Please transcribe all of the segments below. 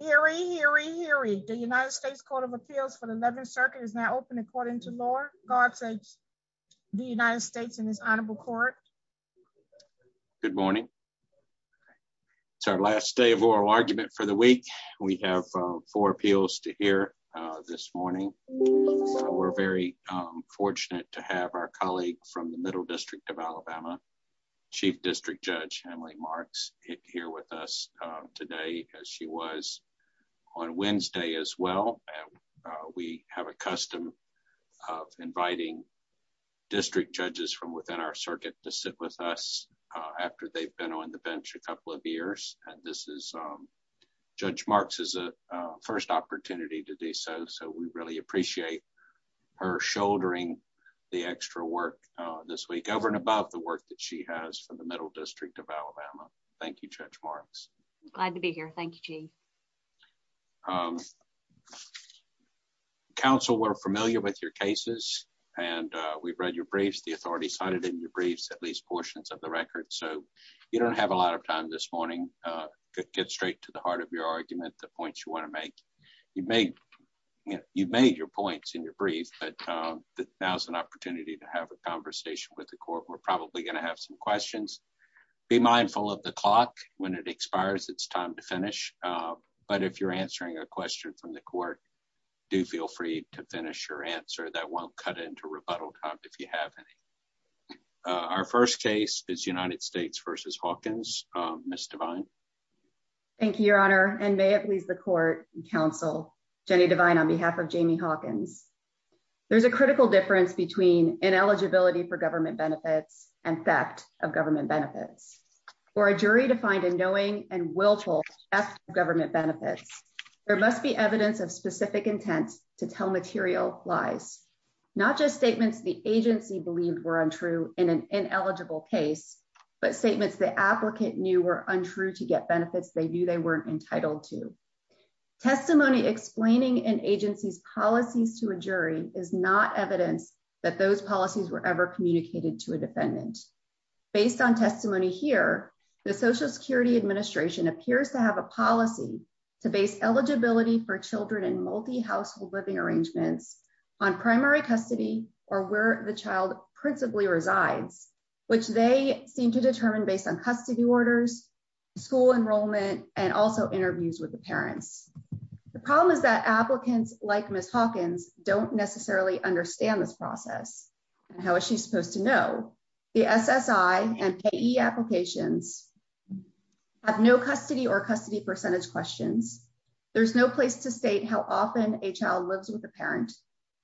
Here we hear we hear we the United States Court of Appeals for the 11th Circuit is now open according to law. God saves the United States and his honorable court. Good morning. It's our last day of oral argument for the week. We have four appeals to hear this morning. We're very fortunate to have our colleague from the middle district of Alabama, Chief District Judge Emily Marks, here with us today as she was on Wednesday as well. We have a custom of inviting district judges from within our circuit to sit with us after they've been on the bench a couple of years. And this is Judge Marks is a first opportunity to do so. So we really appreciate her shouldering the extra work this week over and above the work that she has for the middle district of Alabama. Thank you, Judge Marks. Glad to be here. Thank you, Chief. Counsel, we're familiar with your cases. And we've read your briefs, the authority cited in your briefs at least portions of the record. So you don't have a lot of time this morning. Get straight to the heart of your argument the points you want to make. You've made your points in your brief, but now's an opportunity to have a conversation with the court. We're probably going to have some questions. Be mindful of the clock when it expires, it's time to finish. But if you're answering a question from the court, do feel free to finish your answer that won't cut into rebuttal time if you haven't. Our first case is United States versus Hawkins, Miss Devine. Thank you, Your Honor, and may it please the court and counsel, Jenny Devine on behalf of Jamie Hawkins. There's a critical difference between ineligibility for government benefits and theft of government benefits. For a jury to find a knowing and willful theft of government benefits, there must be evidence of specific intent to tell material lies, not just statements the agency believed were untrue in an ineligible case, but statements the benefits they knew they weren't entitled to. Testimony explaining an agency's policies to a jury is not evidence that those policies were ever communicated to a defendant. Based on testimony here, the Social Security Administration appears to have a policy to base eligibility for children in multi-household living arrangements on primary custody or where the child principally resides, which they seem to determine based on custody orders, school enrollment, and also interviews with the parents. The problem is that applicants like Miss Hawkins don't necessarily understand this process. How is she supposed to know? The SSI and PE applications have no custody or custody percentage questions. There's no place to state how often a child lives with a parent.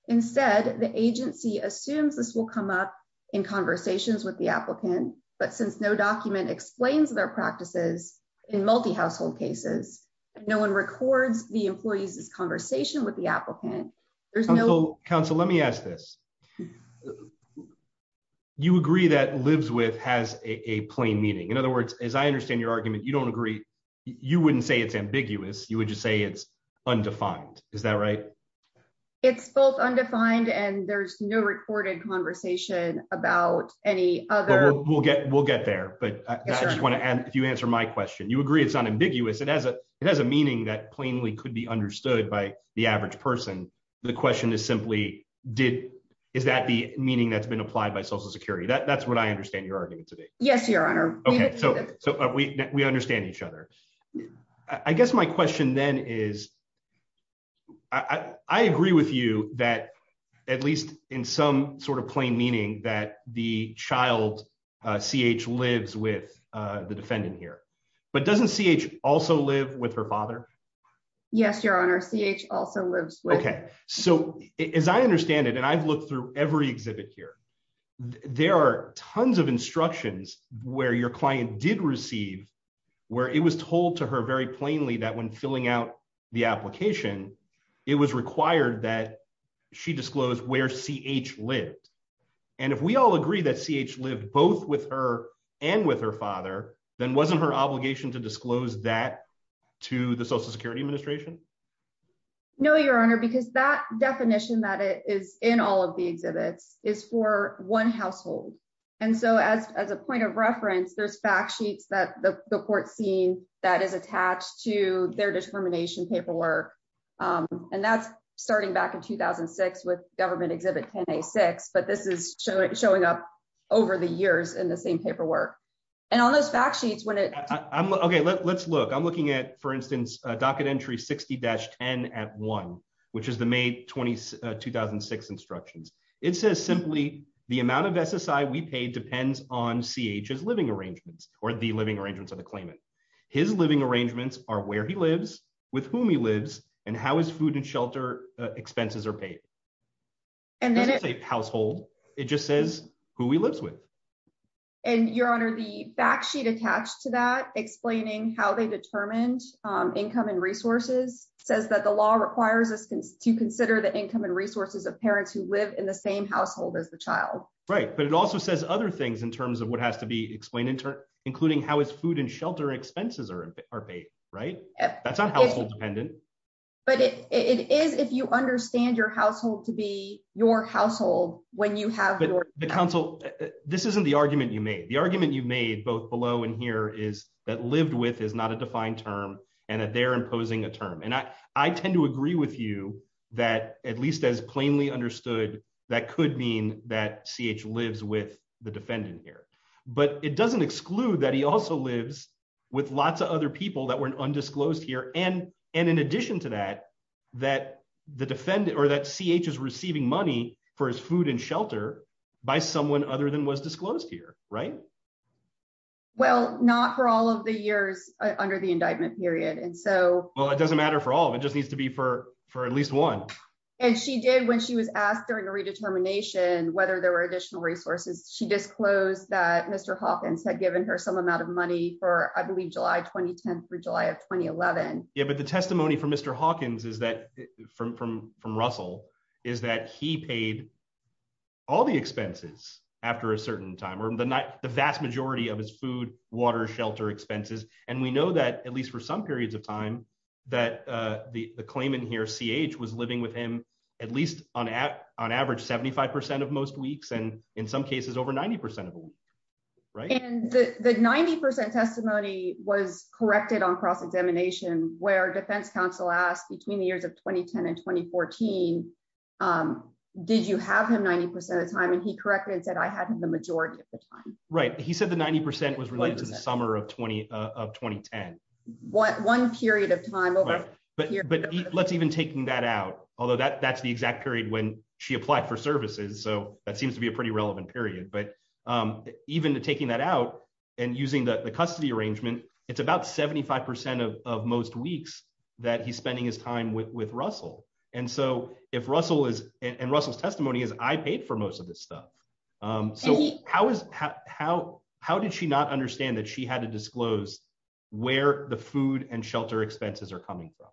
Instead, the agency assumes this will come up in conversations with the in multi-household cases. No one records the employee's conversation with the applicant. Council, let me ask this. You agree that lives with has a plain meaning. In other words, as I understand your argument, you don't agree. You wouldn't say it's ambiguous. You would just say it's undefined. Is that right? It's both undefined and there's no recorded conversation about any other... We'll get there, but I just want to add, answer my question. You agree it's unambiguous. It has a meaning that plainly could be understood by the average person. The question is simply, is that the meaning that's been applied by Social Security? That's what I understand your argument to be. Yes, Your Honor. We understand each other. I guess my question then is, I agree with you that at least in some sort of But doesn't CH also live with her father? Yes, Your Honor. CH also lives with... Okay. So as I understand it, and I've looked through every exhibit here, there are tons of instructions where your client did receive, where it was told to her very plainly that when filling out the application, it was required that she disclosed where CH lived. And if we all agree that CH lived both with and with her father, then wasn't her obligation to disclose that to the Social Security Administration? No, Your Honor, because that definition that is in all of the exhibits is for one household. And so as a point of reference, there's fact sheets that the court seen that is attached to their discrimination paperwork. And that's starting back in 2006 with government exhibit 10A6, but this is showing up over the years in the same paperwork. And on those fact sheets, when it... Okay, let's look. I'm looking at, for instance, Docket Entry 60-10 at 1, which is the May 2006 instructions. It says simply, the amount of SSI we paid depends on CH's living arrangements or the living arrangements of the claimant. His living arrangements are where he lives, with whom he lives, and how his food and shelter expenses are paid. It doesn't say household. It just says who he lives with. And Your Honor, the fact sheet attached to that explaining how they determined income and resources says that the law requires us to consider the income and resources of parents who live in the same household as the child. Right, but it also says other things in terms of what has to be explained, including how his food and shelter expenses are paid, right? That's not household dependent. But it is if you have your... But counsel, this isn't the argument you made. The argument you made, both below and here, is that lived with is not a defined term, and that they're imposing a term. And I tend to agree with you that, at least as plainly understood, that could mean that CH lives with the defendant here. But it doesn't exclude that he also lives with lots of other people that weren't undisclosed here. And in addition to that, that the defendant, or that CH is food and shelter by someone other than was disclosed here, right? Well, not for all of the years under the indictment period. And so... Well, it doesn't matter for all. It just needs to be for at least one. And she did, when she was asked during the redetermination whether there were additional resources, she disclosed that Mr. Hawkins had given her some amount of money for, I believe, July 2010 through July of 2011. Yeah, but the testimony from Mr. Hawkins is from Russell, is that he paid all the expenses after a certain time, or the vast majority of his food, water, shelter expenses. And we know that, at least for some periods of time, that the claimant here, CH, was living with him at least on average 75% of most weeks, and in some cases over 90% of a week, right? And the 90% testimony was corrected on cross-examination, where Defense Counsel asked, between the years of 2010 and 2014, did you have him 90% of the time? And he corrected and said, I had him the majority of the time. Right. He said the 90% was related to the summer of 2010. One period of time over a period of time. Right. But let's even take that out, although that's the exact period when she applied for services, so that seems to be a pretty relevant period. But even taking that out and using the custody arrangement, it's about 75% of most weeks that he's spending his time with Russell. And so if Russell is, and Russell's testimony is, I paid for most of this stuff. So how is, how did she not understand that she had to disclose where the food and shelter expenses are coming from?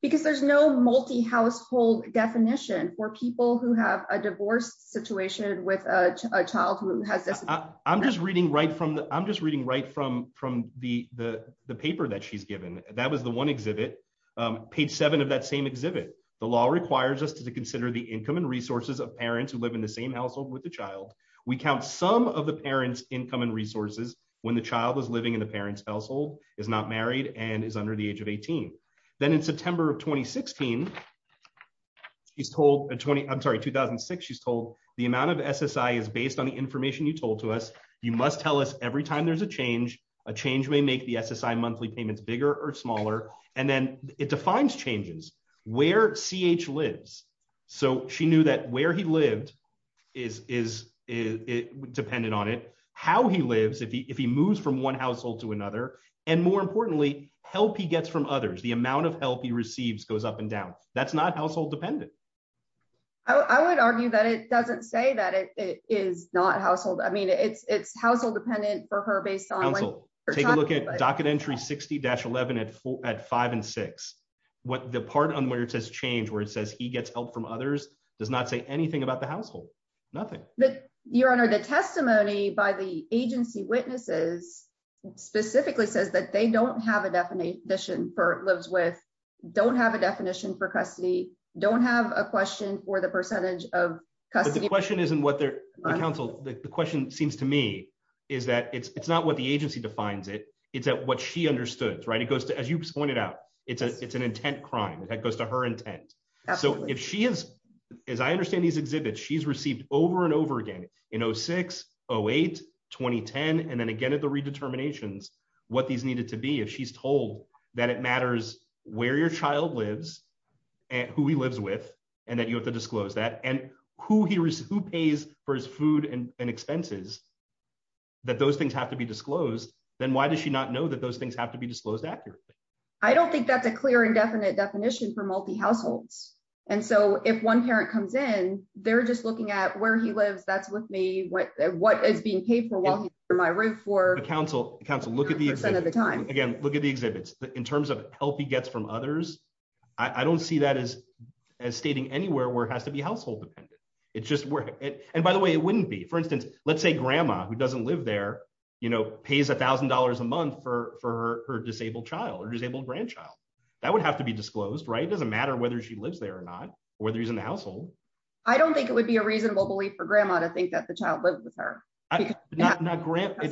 Because there's no multi-household definition for people who have a divorce situation with a child who has this. I'm just reading right from, I'm just reading right from the paper that she's given. That was the one exhibit, page seven of that same exhibit. The law requires us to consider the income and resources of parents who live in the same household with the child. We count some of the parent's income and resources when the child is living in the parent's household, is not married, and is under the age of 18. Then in September of 2016, she's told, I'm sorry, you must tell us every time there's a change, a change may make the SSI monthly payments bigger or smaller. And then it defines changes, where CH lives. So she knew that where he lived is dependent on it, how he lives, if he moves from one household to another, and more importantly, help he gets from others, the amount of help he receives goes up and down. That's not household dependent. I would argue that it doesn't say that it is not household. I mean, it's household dependent for her based on- Counsel, take a look at docket entry 60-11 at five and six. The part on where it says change, where it says he gets help from others, does not say anything about the household. Nothing. Your Honor, the testimony by the agency witnesses specifically says that they don't have a definition for lives with, don't have a definition for custody, don't have a question for the percentage of custody- The question isn't what they're- Counsel, the question seems to me is that it's not what the agency defines it. It's what she understood, right? It goes to, as you pointed out, it's an intent crime. That goes to her intent. So if she has, as I understand these exhibits, she's received over and over again in 06, 08, 2010, and then again at the redeterminations, what these with, and that you have to disclose that, and who pays for his food and expenses, that those things have to be disclosed, then why does she not know that those things have to be disclosed accurately? I don't think that's a clear and definite definition for multi-households. And so if one parent comes in, they're just looking at where he lives, that's with me, what is being paid for while he's on my roof for- Counsel, Counsel, look at the- 100% of the time. Again, look at the exhibits. In terms of help he gets from others, I don't see as stating anywhere where it has to be household dependent. It's just where, and by the way, it wouldn't be. For instance, let's say grandma who doesn't live there, you know, pays $1,000 a month for her disabled child or disabled grandchild. That would have to be disclosed, right? It doesn't matter whether she lives there or not, or whether he's in the household. I don't think it would be a reasonable belief for grandma to think that the child lived with her. It's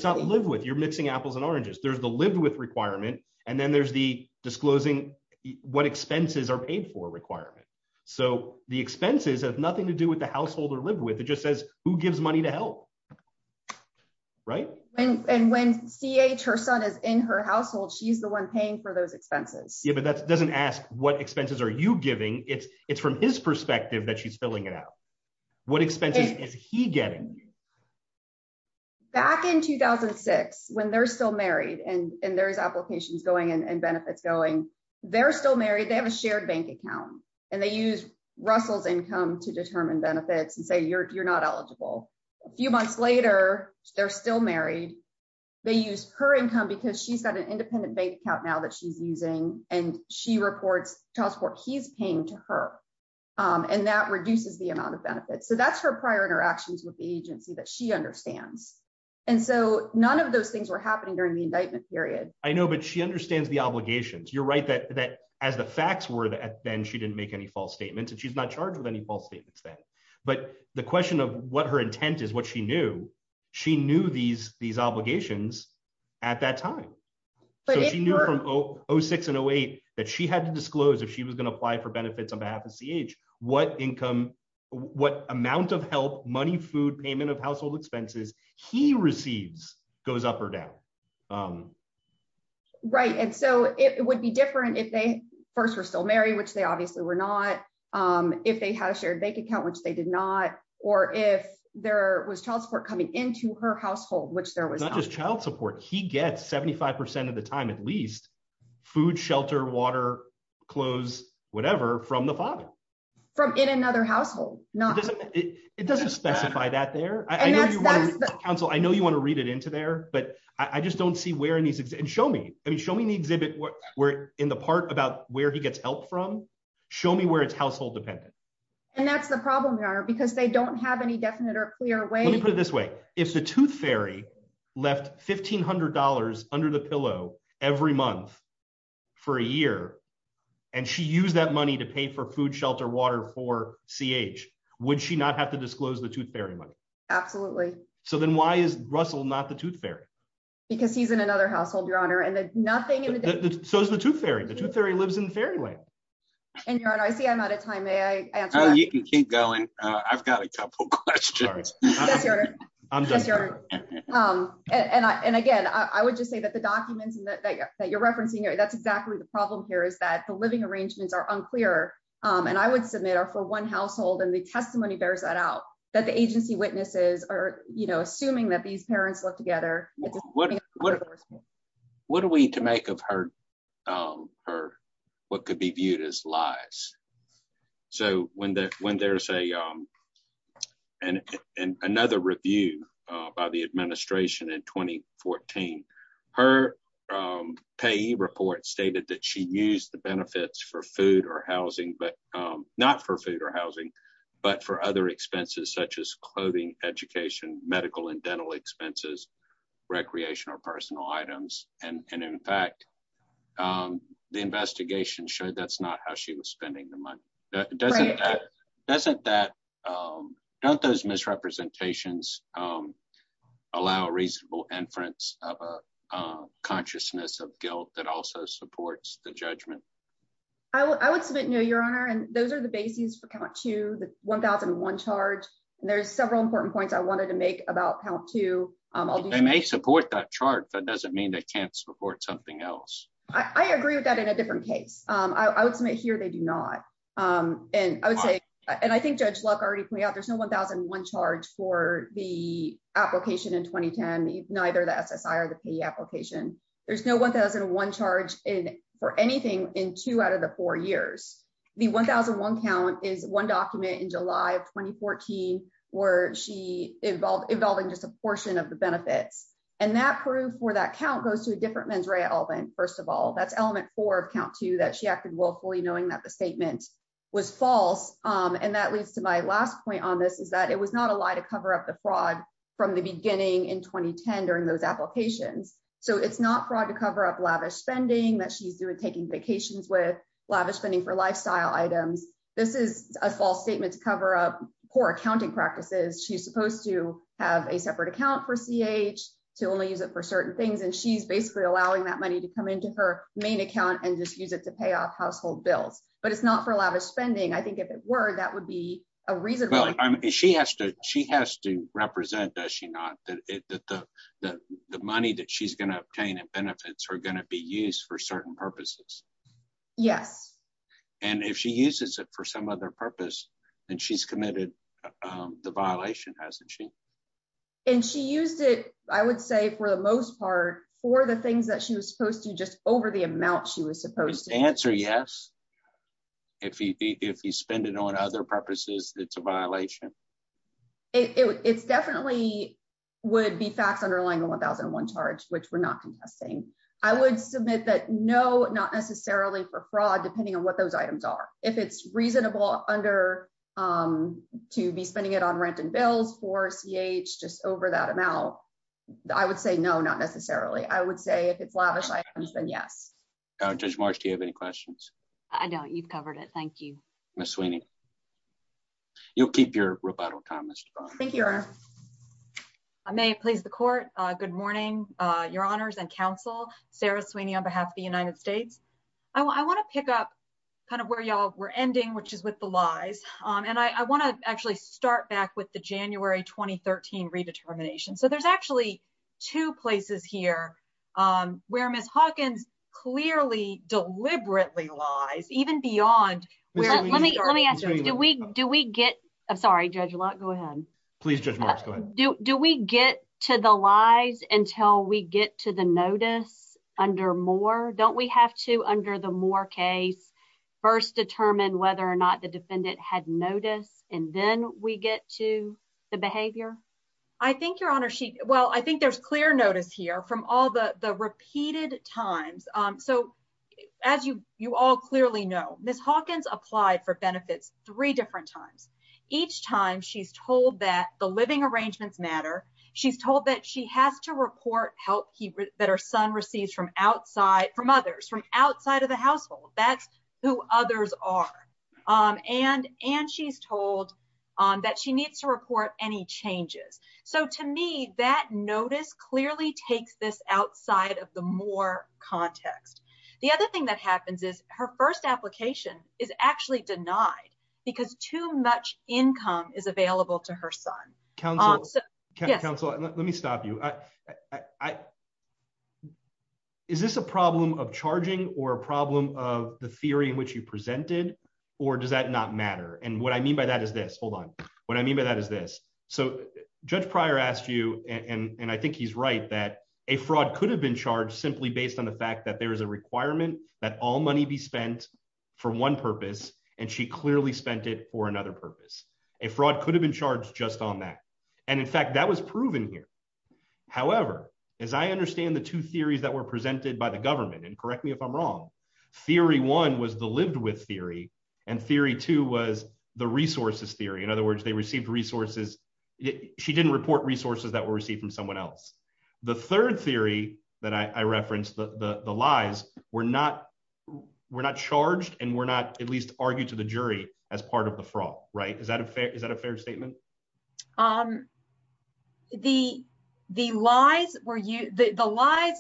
not live with, you're mixing apples and oranges. There's the live with requirement, and then there's the disclosing what expenses are paid for requirement. So the expenses have nothing to do with the household or live with. It just says who gives money to help, right? And when CH, her son, is in her household, she's the one paying for those expenses. Yeah, but that doesn't ask what expenses are you giving? It's from his perspective that she's filling it out. What expenses is he getting? Back in 2006, when they're still married, and there's applications going and benefits going, they're still married. They have a shared bank account, and they use Russell's income to determine benefits and say you're not eligible. A few months later, they're still married. They use her income because she's got an independent bank account now that she's using, and she reports child support he's paying to her, and that reduces the amount of that she understands. And so none of those things were happening during the indictment period. I know, but she understands the obligations. You're right that as the facts were then, she didn't make any false statements, and she's not charged with any false statements then. But the question of what her intent is, what she knew, she knew these obligations at that time. So she knew from 06 and 08 that she had to disclose if she was going to apply for benefits on behalf of household expenses he receives goes up or down. Right. And so it would be different if they first were still married, which they obviously were not, if they had a shared bank account, which they did not, or if there was child support coming into her household, which there was not. Not just child support. He gets 75% of the time, at least, food, shelter, water, clothes, whatever from the father. From in another household. It doesn't specify that there. Council, I know you want to read it into there, but I just don't see where in these, and show me, I mean, show me in the exhibit in the part about where he gets help from, show me where it's household dependent. And that's the problem, Your Honor, because they don't have any definite or clear way. Let me put it this way. If the tooth fairy left $1,500 under the pillow every month for a year, and she used that money to pay for food, shelter, water for CH, would she not have to disclose the tooth fairy money? Absolutely. So then why is Russell not the tooth fairy? Because he's in another household, Your Honor, and there's nothing in the data. So is the tooth fairy. The tooth fairy lives in the fairy land. And Your Honor, I see I'm out of time. May I answer that? You can keep going. I've got a couple questions. Yes, Your Honor. And again, I would just say that the documents that you're referencing, that's exactly the problem here, is that the living arrangements are for one household, and the testimony bears that out, that the agency witnesses are assuming that these parents live together. What are we to make of what could be viewed as lies? So when there's another review by the administration in 2014, her PE report stated that she used the benefits for food or housing, but not for food or housing, but for other expenses such as clothing, education, medical and dental expenses, recreation or personal items. And in fact, the investigation showed that's not how she was spending the money. Doesn't that, don't those misrepresentations allow reasonable inference of a judgment? I would submit no, Your Honor. And those are the bases for count two, the 1001 charge. And there's several important points I wanted to make about count two. They may support that chart. That doesn't mean they can't support something else. I agree with that in a different case. I would submit here they do not. And I would say, and I think Judge Luck already pointed out, there's no 1001 charge for the application in 2010, neither the SSI or the PE application. There's no 1001 charge for anything in two out of the four years. The 1001 count is one document in July of 2014, where she involved involving just a portion of the benefits. And that proof for that count goes to a different mens rea element. First of all, that's element four of count two that she acted willfully knowing that the statement was false. And that leads to my last point on this is that it was not a lie to cover up the fraud from the beginning in 2010 during those applications. So it's not fraud to cover up lavish spending that she's doing taking vacations with lavish spending for lifestyle items. This is a false statement to cover up poor accounting practices. She's supposed to have a separate account for CH to only use it for certain things. And she's basically allowing that money to come into her main account and just use it to pay off household bills. But it's not for lavish spending. I think if it were, that would be a reason. She has to she has to represent that she not that the money that she's going to obtain and benefits are going to be used for certain purposes. Yes. And if she uses it for some other purpose, and she's committed the violation, hasn't she? And she used it, I would say, for the most part for the things that she was supposed to just over the amount she was supposed to answer. Yes. If you spend it on other purposes, it's a violation. It's definitely would be facts underlying the 1001 charge, which we're not contesting. I would submit that no, not necessarily for fraud, depending on what those items are. If it's reasonable under to be spending it on rent and bills for CH just over that amount. I would say no, not necessarily. I would say if it's lavish items, then yes. Judge Marsh, do you have any questions? I don't. You've covered it. Thank you. Miss Sweeney. You'll keep your rebuttal time. Mr. Thank you. I may please the court. Good morning, your honors and counsel. Sarah Sweeney on behalf of the United States. I want to pick up kind of where y'all were ending, which is with the lies. And I want to actually start back with the January 2013 redetermination. So there's actually two places here where Miss Hawkins clearly deliberately lies, even beyond. Let me let me ask you, do we do we get? I'm sorry, judge. A lot. Go ahead. Please, judge. Do we get to the lies until we get to the notice under more? Don't we have to under the more case? First, determine whether or not the defendant had notice. And then we get to the behavior. I think you're on a sheet. Well, I think there's clear notice here from all the repeated times. So as you all clearly know, Miss Hawkins applied for benefits three different times. Each time she's told that the living arrangements matter. She's told that she has to report help that her son receives from outside from others, from outside of the household. That's who others are. And and she's told that she needs to report any changes. So to me, that notice clearly takes this outside of the more context. The other thing that happens is her first application is actually denied because too much income is available to her son. Council, Council, let me stop you. Is this a problem of charging or a problem of the theory in which you presented? Or does that not matter? And what I mean by that is this. Hold on. What I mean by that is this. So Judge Pryor asked you and I think he's right that a fraud could have been charged simply based on the fact that there is a requirement that all money be spent for one purpose. And she clearly spent it for another purpose. A fraud could have been charged just on that. And in fact, that was proven here. However, as I understand the two theories that were presented by the government, and correct me if I'm wrong, theory one was the lived with theory. And theory two was the resources theory. In other words, they received resources. She didn't report resources that were received from someone else. The third theory that I referenced, the lies were not, were not charged and were not at least argued to the jury as part of the fraud. Right. Is that a fair, is that a fair statement? Um, the, the lies were you the lies.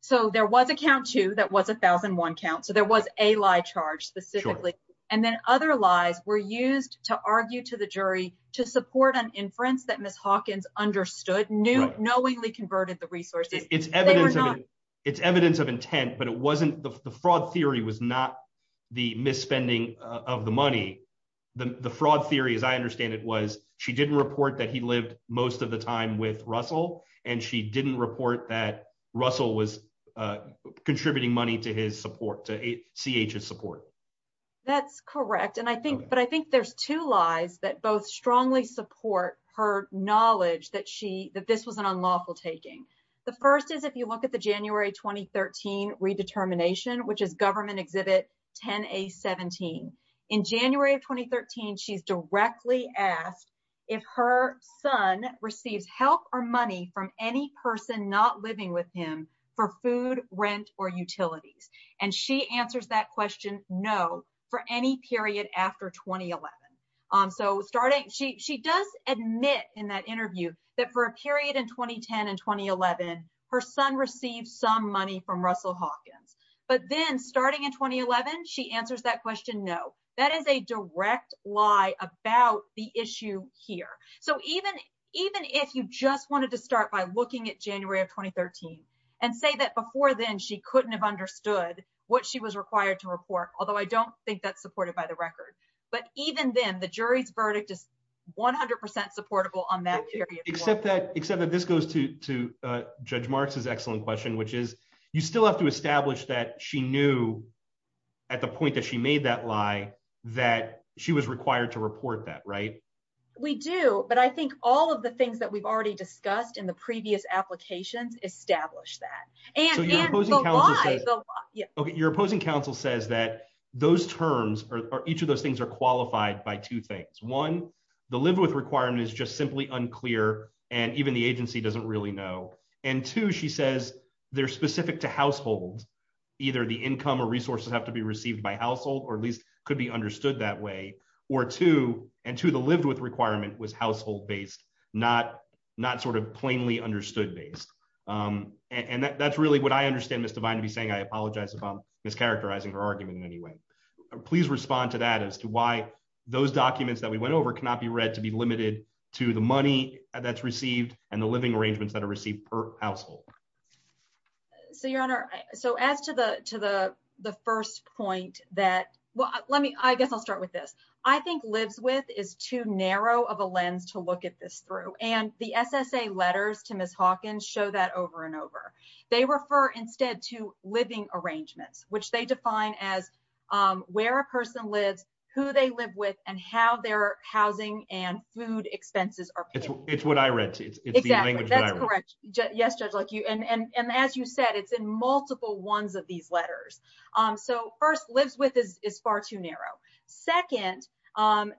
So there was a count to that was 1001 counts. So there was a lie charge specifically. And then other lies were used to argue to the jury to support an inference that Miss Hawkins understood knew knowingly converted the resources. It's evidence, it's evidence of intent, but it wasn't the fraud theory was not the misspending of the money. The fraud theory, as I understand it was, she didn't report that he lived most of the time with Russell, and she didn't report that Russell was contributing money to his support to CHS support. That's correct. And I think, but I think there's two lies that both strongly support her knowledge that she that this was an unlawful taking. The first is if you look at the January 2013 redetermination, which is government exhibit 10 a 17 in January of 2013, she's directly asked if her son receives help or money from any person not living with him for food, rent, or utilities. And she answers that question. No, for any period after 2011. Um, so starting, she, she does admit in that interview that for a period in 2010 and 2011, her son received some money from Russell Hawkins. But then starting in 2011, she answers that question. No, that is a direct lie about the issue here. So even, even if you just wanted to start by looking at January of 2013, and say that before then she couldn't have understood what she was required to report, although I don't think that's supported by the record, but even then the jury's verdict is 100% supportable on that period. Except that, except that this goes to, to judge marks is excellent question, you still have to establish that she knew at the point that she made that lie, that she was required to report that, right? We do, but I think all of the things that we've already discussed in the previous applications established that. Your opposing counsel says that those terms are, each of those things are qualified by two things. One, the live with requirement is just simply unclear. And even the agency doesn't really know. And two, she says they're specific to household. Either the income or resources have to be received by household, or at least could be understood that way. Or two, and two, the live with requirement was household based, not, not sort of plainly understood based. And that's really what I understand Ms. Devine to be saying. I apologize if I'm mischaracterizing her argument in any way. Please respond to that as to why those documents that we went over cannot be read to be limited to the money that's received and the living arrangements that are received per household. So your honor, so as to the first point that, well, let me, I guess I'll start with this. I think lives with is too narrow of a lens to look at this through. And the SSA letters to Ms. Hawkins show that over and over. They refer instead to living arrangements, which they define as where a person lives, who they live with, and how their housing and food expenses are paid. It's what I read. Yes, Judge Luck, and as you said, it's in multiple ones of these letters. So first lives with is far too narrow. Second,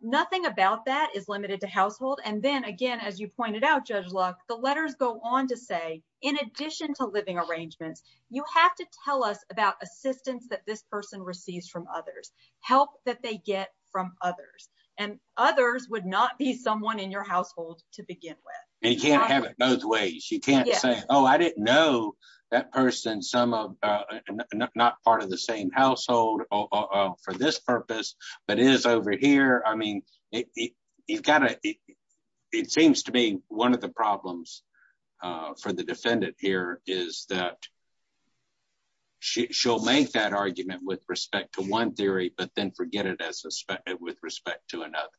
nothing about that is limited to household. And then again, as you pointed out, Judge Luck, the letters go on to say, in addition to living arrangements, you have to tell us about assistance that this person receives from others, help that they get from others. And others would not be someone in your household to begin with. And you can't have it both ways. You can't say, oh, I didn't know that person, some of, not part of the same household for this purpose, but it is over here. I mean, you've got to, it seems to me, one of the problems for the defendant here is that she'll make that argument with respect to one theory, but then forget it with respect to another.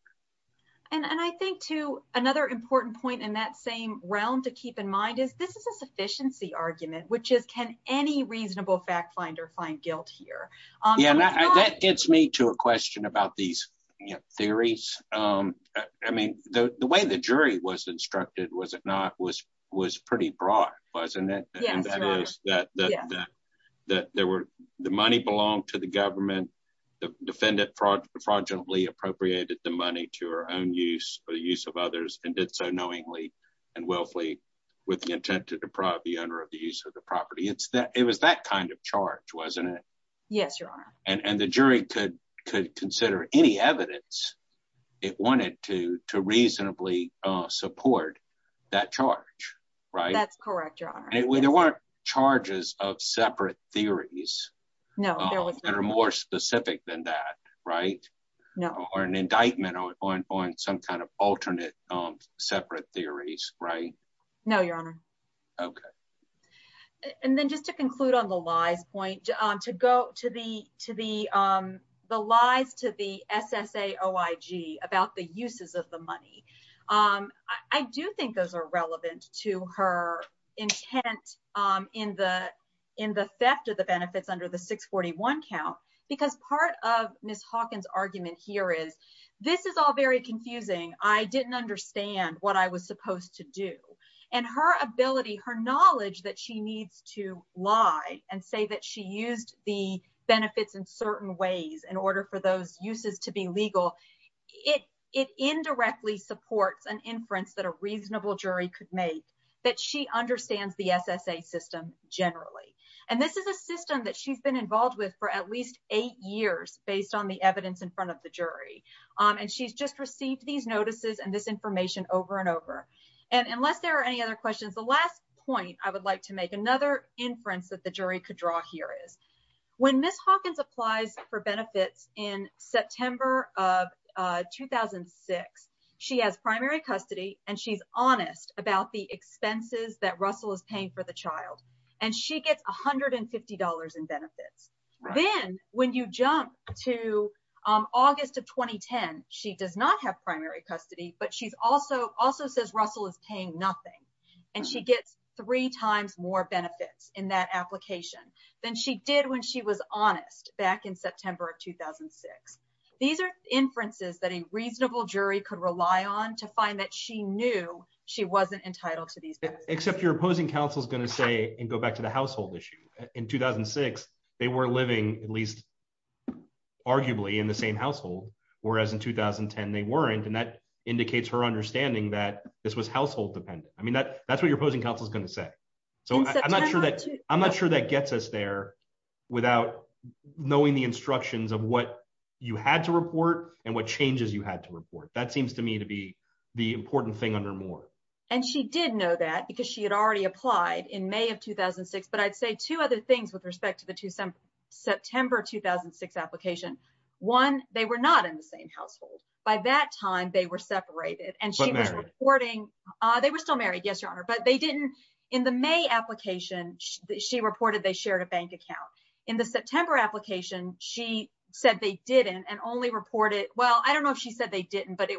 And I think, too, another important point in that same realm to keep in mind is, this is a sufficiency argument, which is, can any reasonable fact finder find guilt here? Yeah, and that gets me to a question about these theories. I mean, the way the jury was instructed, was it not, was pretty broad, wasn't it? Yes. And that is that the money belonged to the government, the defendant fraudulently appropriated the money to her own use, for the use of others, and did so knowingly and wealthily with the intent to deprive the owner of the use of the property. It's that, it was that kind of charge, wasn't it? Yes, Your Honor. And the jury could consider any evidence it wanted to reasonably support that charge, right? That's correct, Your Honor. There weren't charges of separate theories. No, there was not. Or more specific than that, right? No. Or an indictment on some kind of alternate separate theories, right? No, Your Honor. Okay. And then just to conclude on the lies point, to go to the lies to the SSAOIG about the uses of the money, I do think those are relevant to her intent in the theft of the benefits under the 641 count, because part of Ms. Hawkins' argument here is, this is all very confusing. I didn't understand what I was supposed to do. And her ability, her knowledge that she needs to lie and say that she used the benefits in certain ways in order for those uses to be legal, it indirectly supports an inference that a reasonable jury could make that she understands the SSA system generally. And this is a system that she's been involved with for at least eight years based on the evidence in front of the jury. And she's just received these notices and this information over and over. And unless there are any other questions, the last point I would like to make another inference that the jury could draw here is, when Ms. Hawkins applies for benefits in September of 2006, she has primary custody, and she's honest about the expenses that Russell is paying for the child. And she gets $150 in benefits. Then when you jump to August of 2010, she does not have primary custody, but she also says Russell is paying nothing. And she gets three times more benefits in that application than she did when she was honest back in September of 2006. These are inferences that a reasonable jury could rely on to find that she knew she wasn't entitled to these benefits. Except your opposing counsel is going to say, and go back to the household issue, in 2006, they were living at least arguably in the same household, whereas in 2010, they weren't. And that indicates her understanding that this was household dependent. I mean, that's what your opposing counsel is going to say. So I'm not sure that gets us there without knowing the instructions of what you had to report and what changes you had to report. That seems to me to be the important thing under Moore. And she did know that because she had already applied in May of 2006. But I'd say two other things with respect to the September 2006 application. One, they were not in the same household. By that time, they were separated. And she was reporting, they were still married. Yes, Your Honor. But they didn't, in the May application, she reported they shared a bank account. In the September application, she said they didn't and only reported, well, I don't know if she said they didn't, but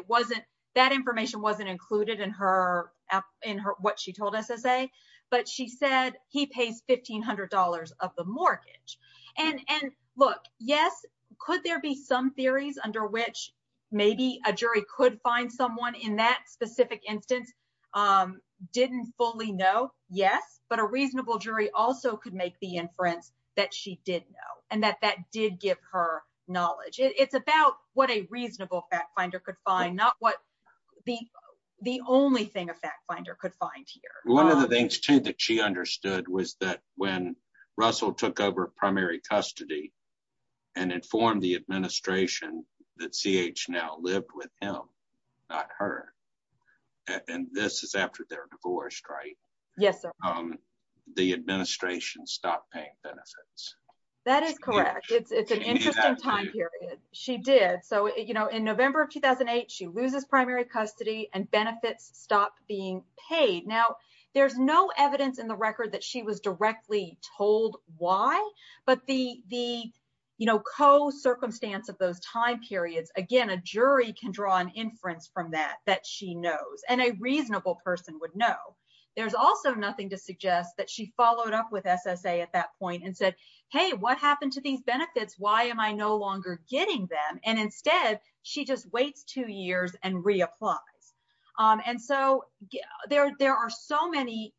that information wasn't included in what she told SSA. But she said he pays $1,500 of the mortgage. And look, yes, could there be some theories under which maybe a jury could find someone in that specific instance? Didn't fully know, yes. But a reasonable jury also could make the inference that she did know and that that did give her knowledge. It's about what a reasonable fact finder could find, not what the only thing a fact finder could find here. One of the things, too, that she understood was that when Russell took over primary custody and informed the administration that CH now lived with him, not her. And this is after they're divorced, right? Yes, Your Honor. The administration stopped paying benefits. That is correct. It's an interesting time period. She did. So in November of 2008, she loses primary custody and benefits stop being paid. Now, there's no evidence in the record that she was directly told why. But the co-circumstance of those time periods, again, a jury can draw an inference from that that she knows and a reasonable person would know. There's also nothing to suggest that she followed up with SSA at that point and said, hey, what happened to these benefits? Why am I no longer getting them? And instead, she just waits two years and reapplies. And so there are so many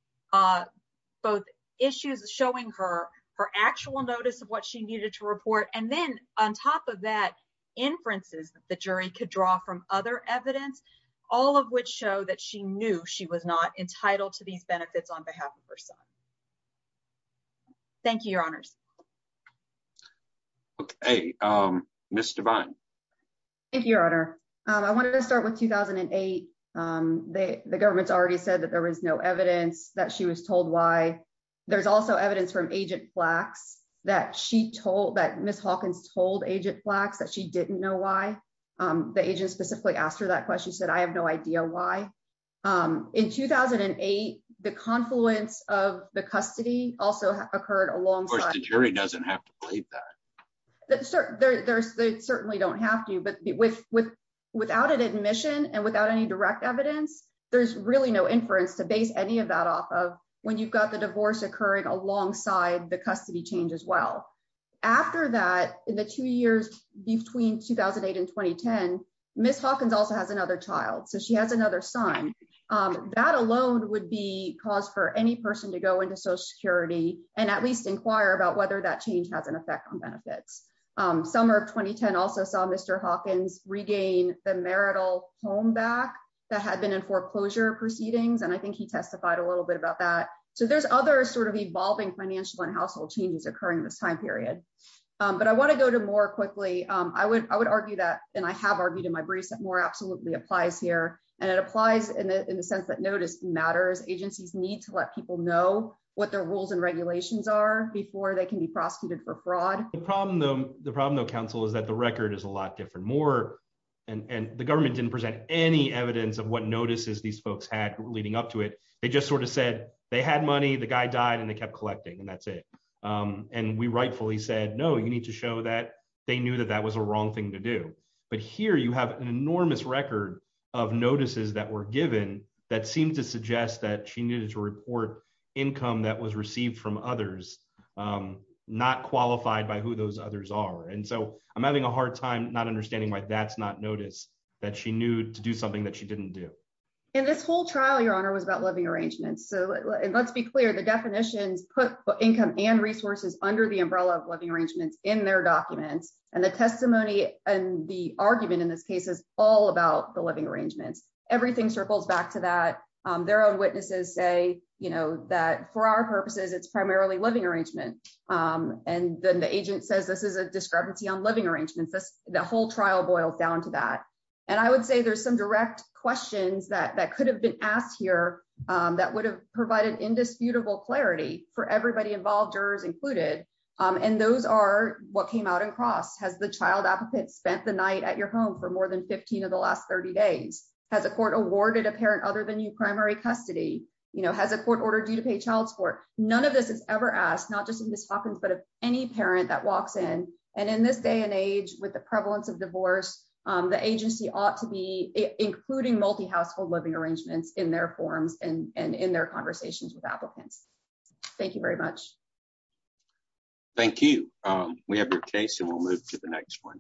both issues showing her her actual notice of what she needed to report. And then on top of that, inferences that the jury could draw from other evidence, all of which show that she knew she was not entitled to these benefits on behalf of her son. Thank you, Your Honors. Okay, Ms. Devine. Thank you, Your Honor. I wanted to start with 2008. The government's already said that there was no evidence that she was told why. There's also evidence from Agent Flax that she told, that Ms. Hawkins told Agent Flax that she didn't know why. The agent specifically asked her that question. She said, I have no idea why. In 2008, the confluence of the custody also occurred alongside. Of course, the jury doesn't have to believe that. They certainly don't have to. But without an admission and without any direct evidence, there's really no inference to base any of that off of when you've got the divorce occurring alongside the custody change as well. After that, in the two years between 2008 and 2010, Ms. Hawkins also has another child. So she has another son. That alone would be cause for any person to go into Social Security and at least inquire about whether that change has an effect on benefits. Summer of 2010 also saw Mr. Hawkins regain the marital home back that had been in foreclosure proceedings. And I think he testified a little bit about that. So there's other sort of evolving financial and household changes occurring in this time period. But I want to go to more quickly. I would argue that, and I have argued in my briefs, that more absolutely applies here. And it applies in the sense that notice matters. Agencies need to let people know what their rules and regulations are before they can be prosecuted for fraud. The problem, though, counsel, is that the record is a lot different. And the government didn't present any evidence of what notices these folks had leading up to it. They just sort of said they had money, the guy died, they kept collecting, and that's it. And we rightfully said, no, you need to show that they knew that that was a wrong thing to do. But here you have an enormous record of notices that were given that seemed to suggest that she needed to report income that was received from others, not qualified by who those others are. And so I'm having a hard time not understanding why that's not notice that she knew to do something that she didn't do. And this whole trial, Your Honor, was about living arrangements. So let's be clear, the definitions put income and resources under the umbrella of living arrangements in their documents. And the testimony and the argument in this case is all about the living arrangements. Everything circles back to that. Their own witnesses say that for our purposes, it's primarily living arrangement. And then the agent says this is a discrepancy on living arrangements. The whole trial boils down to that. And I would say there's some direct questions that could have been asked here that would have provided indisputable clarity for everybody involved, jurors included. And those are what came out in cross. Has the child applicant spent the night at your home for more than 15 of the last 30 days? Has the court awarded a parent other than you primary custody? Has the court ordered you to pay child support? None of this is ever asked, not just in Ms. Hopkins, but of any parent that walks in. And in this day and age with the prevalence of divorce, the agency ought to be including multi-household living arrangements in their forms and in their conversations with applicants. Thank you very much. Thank you. We have your case and we'll move to the next one.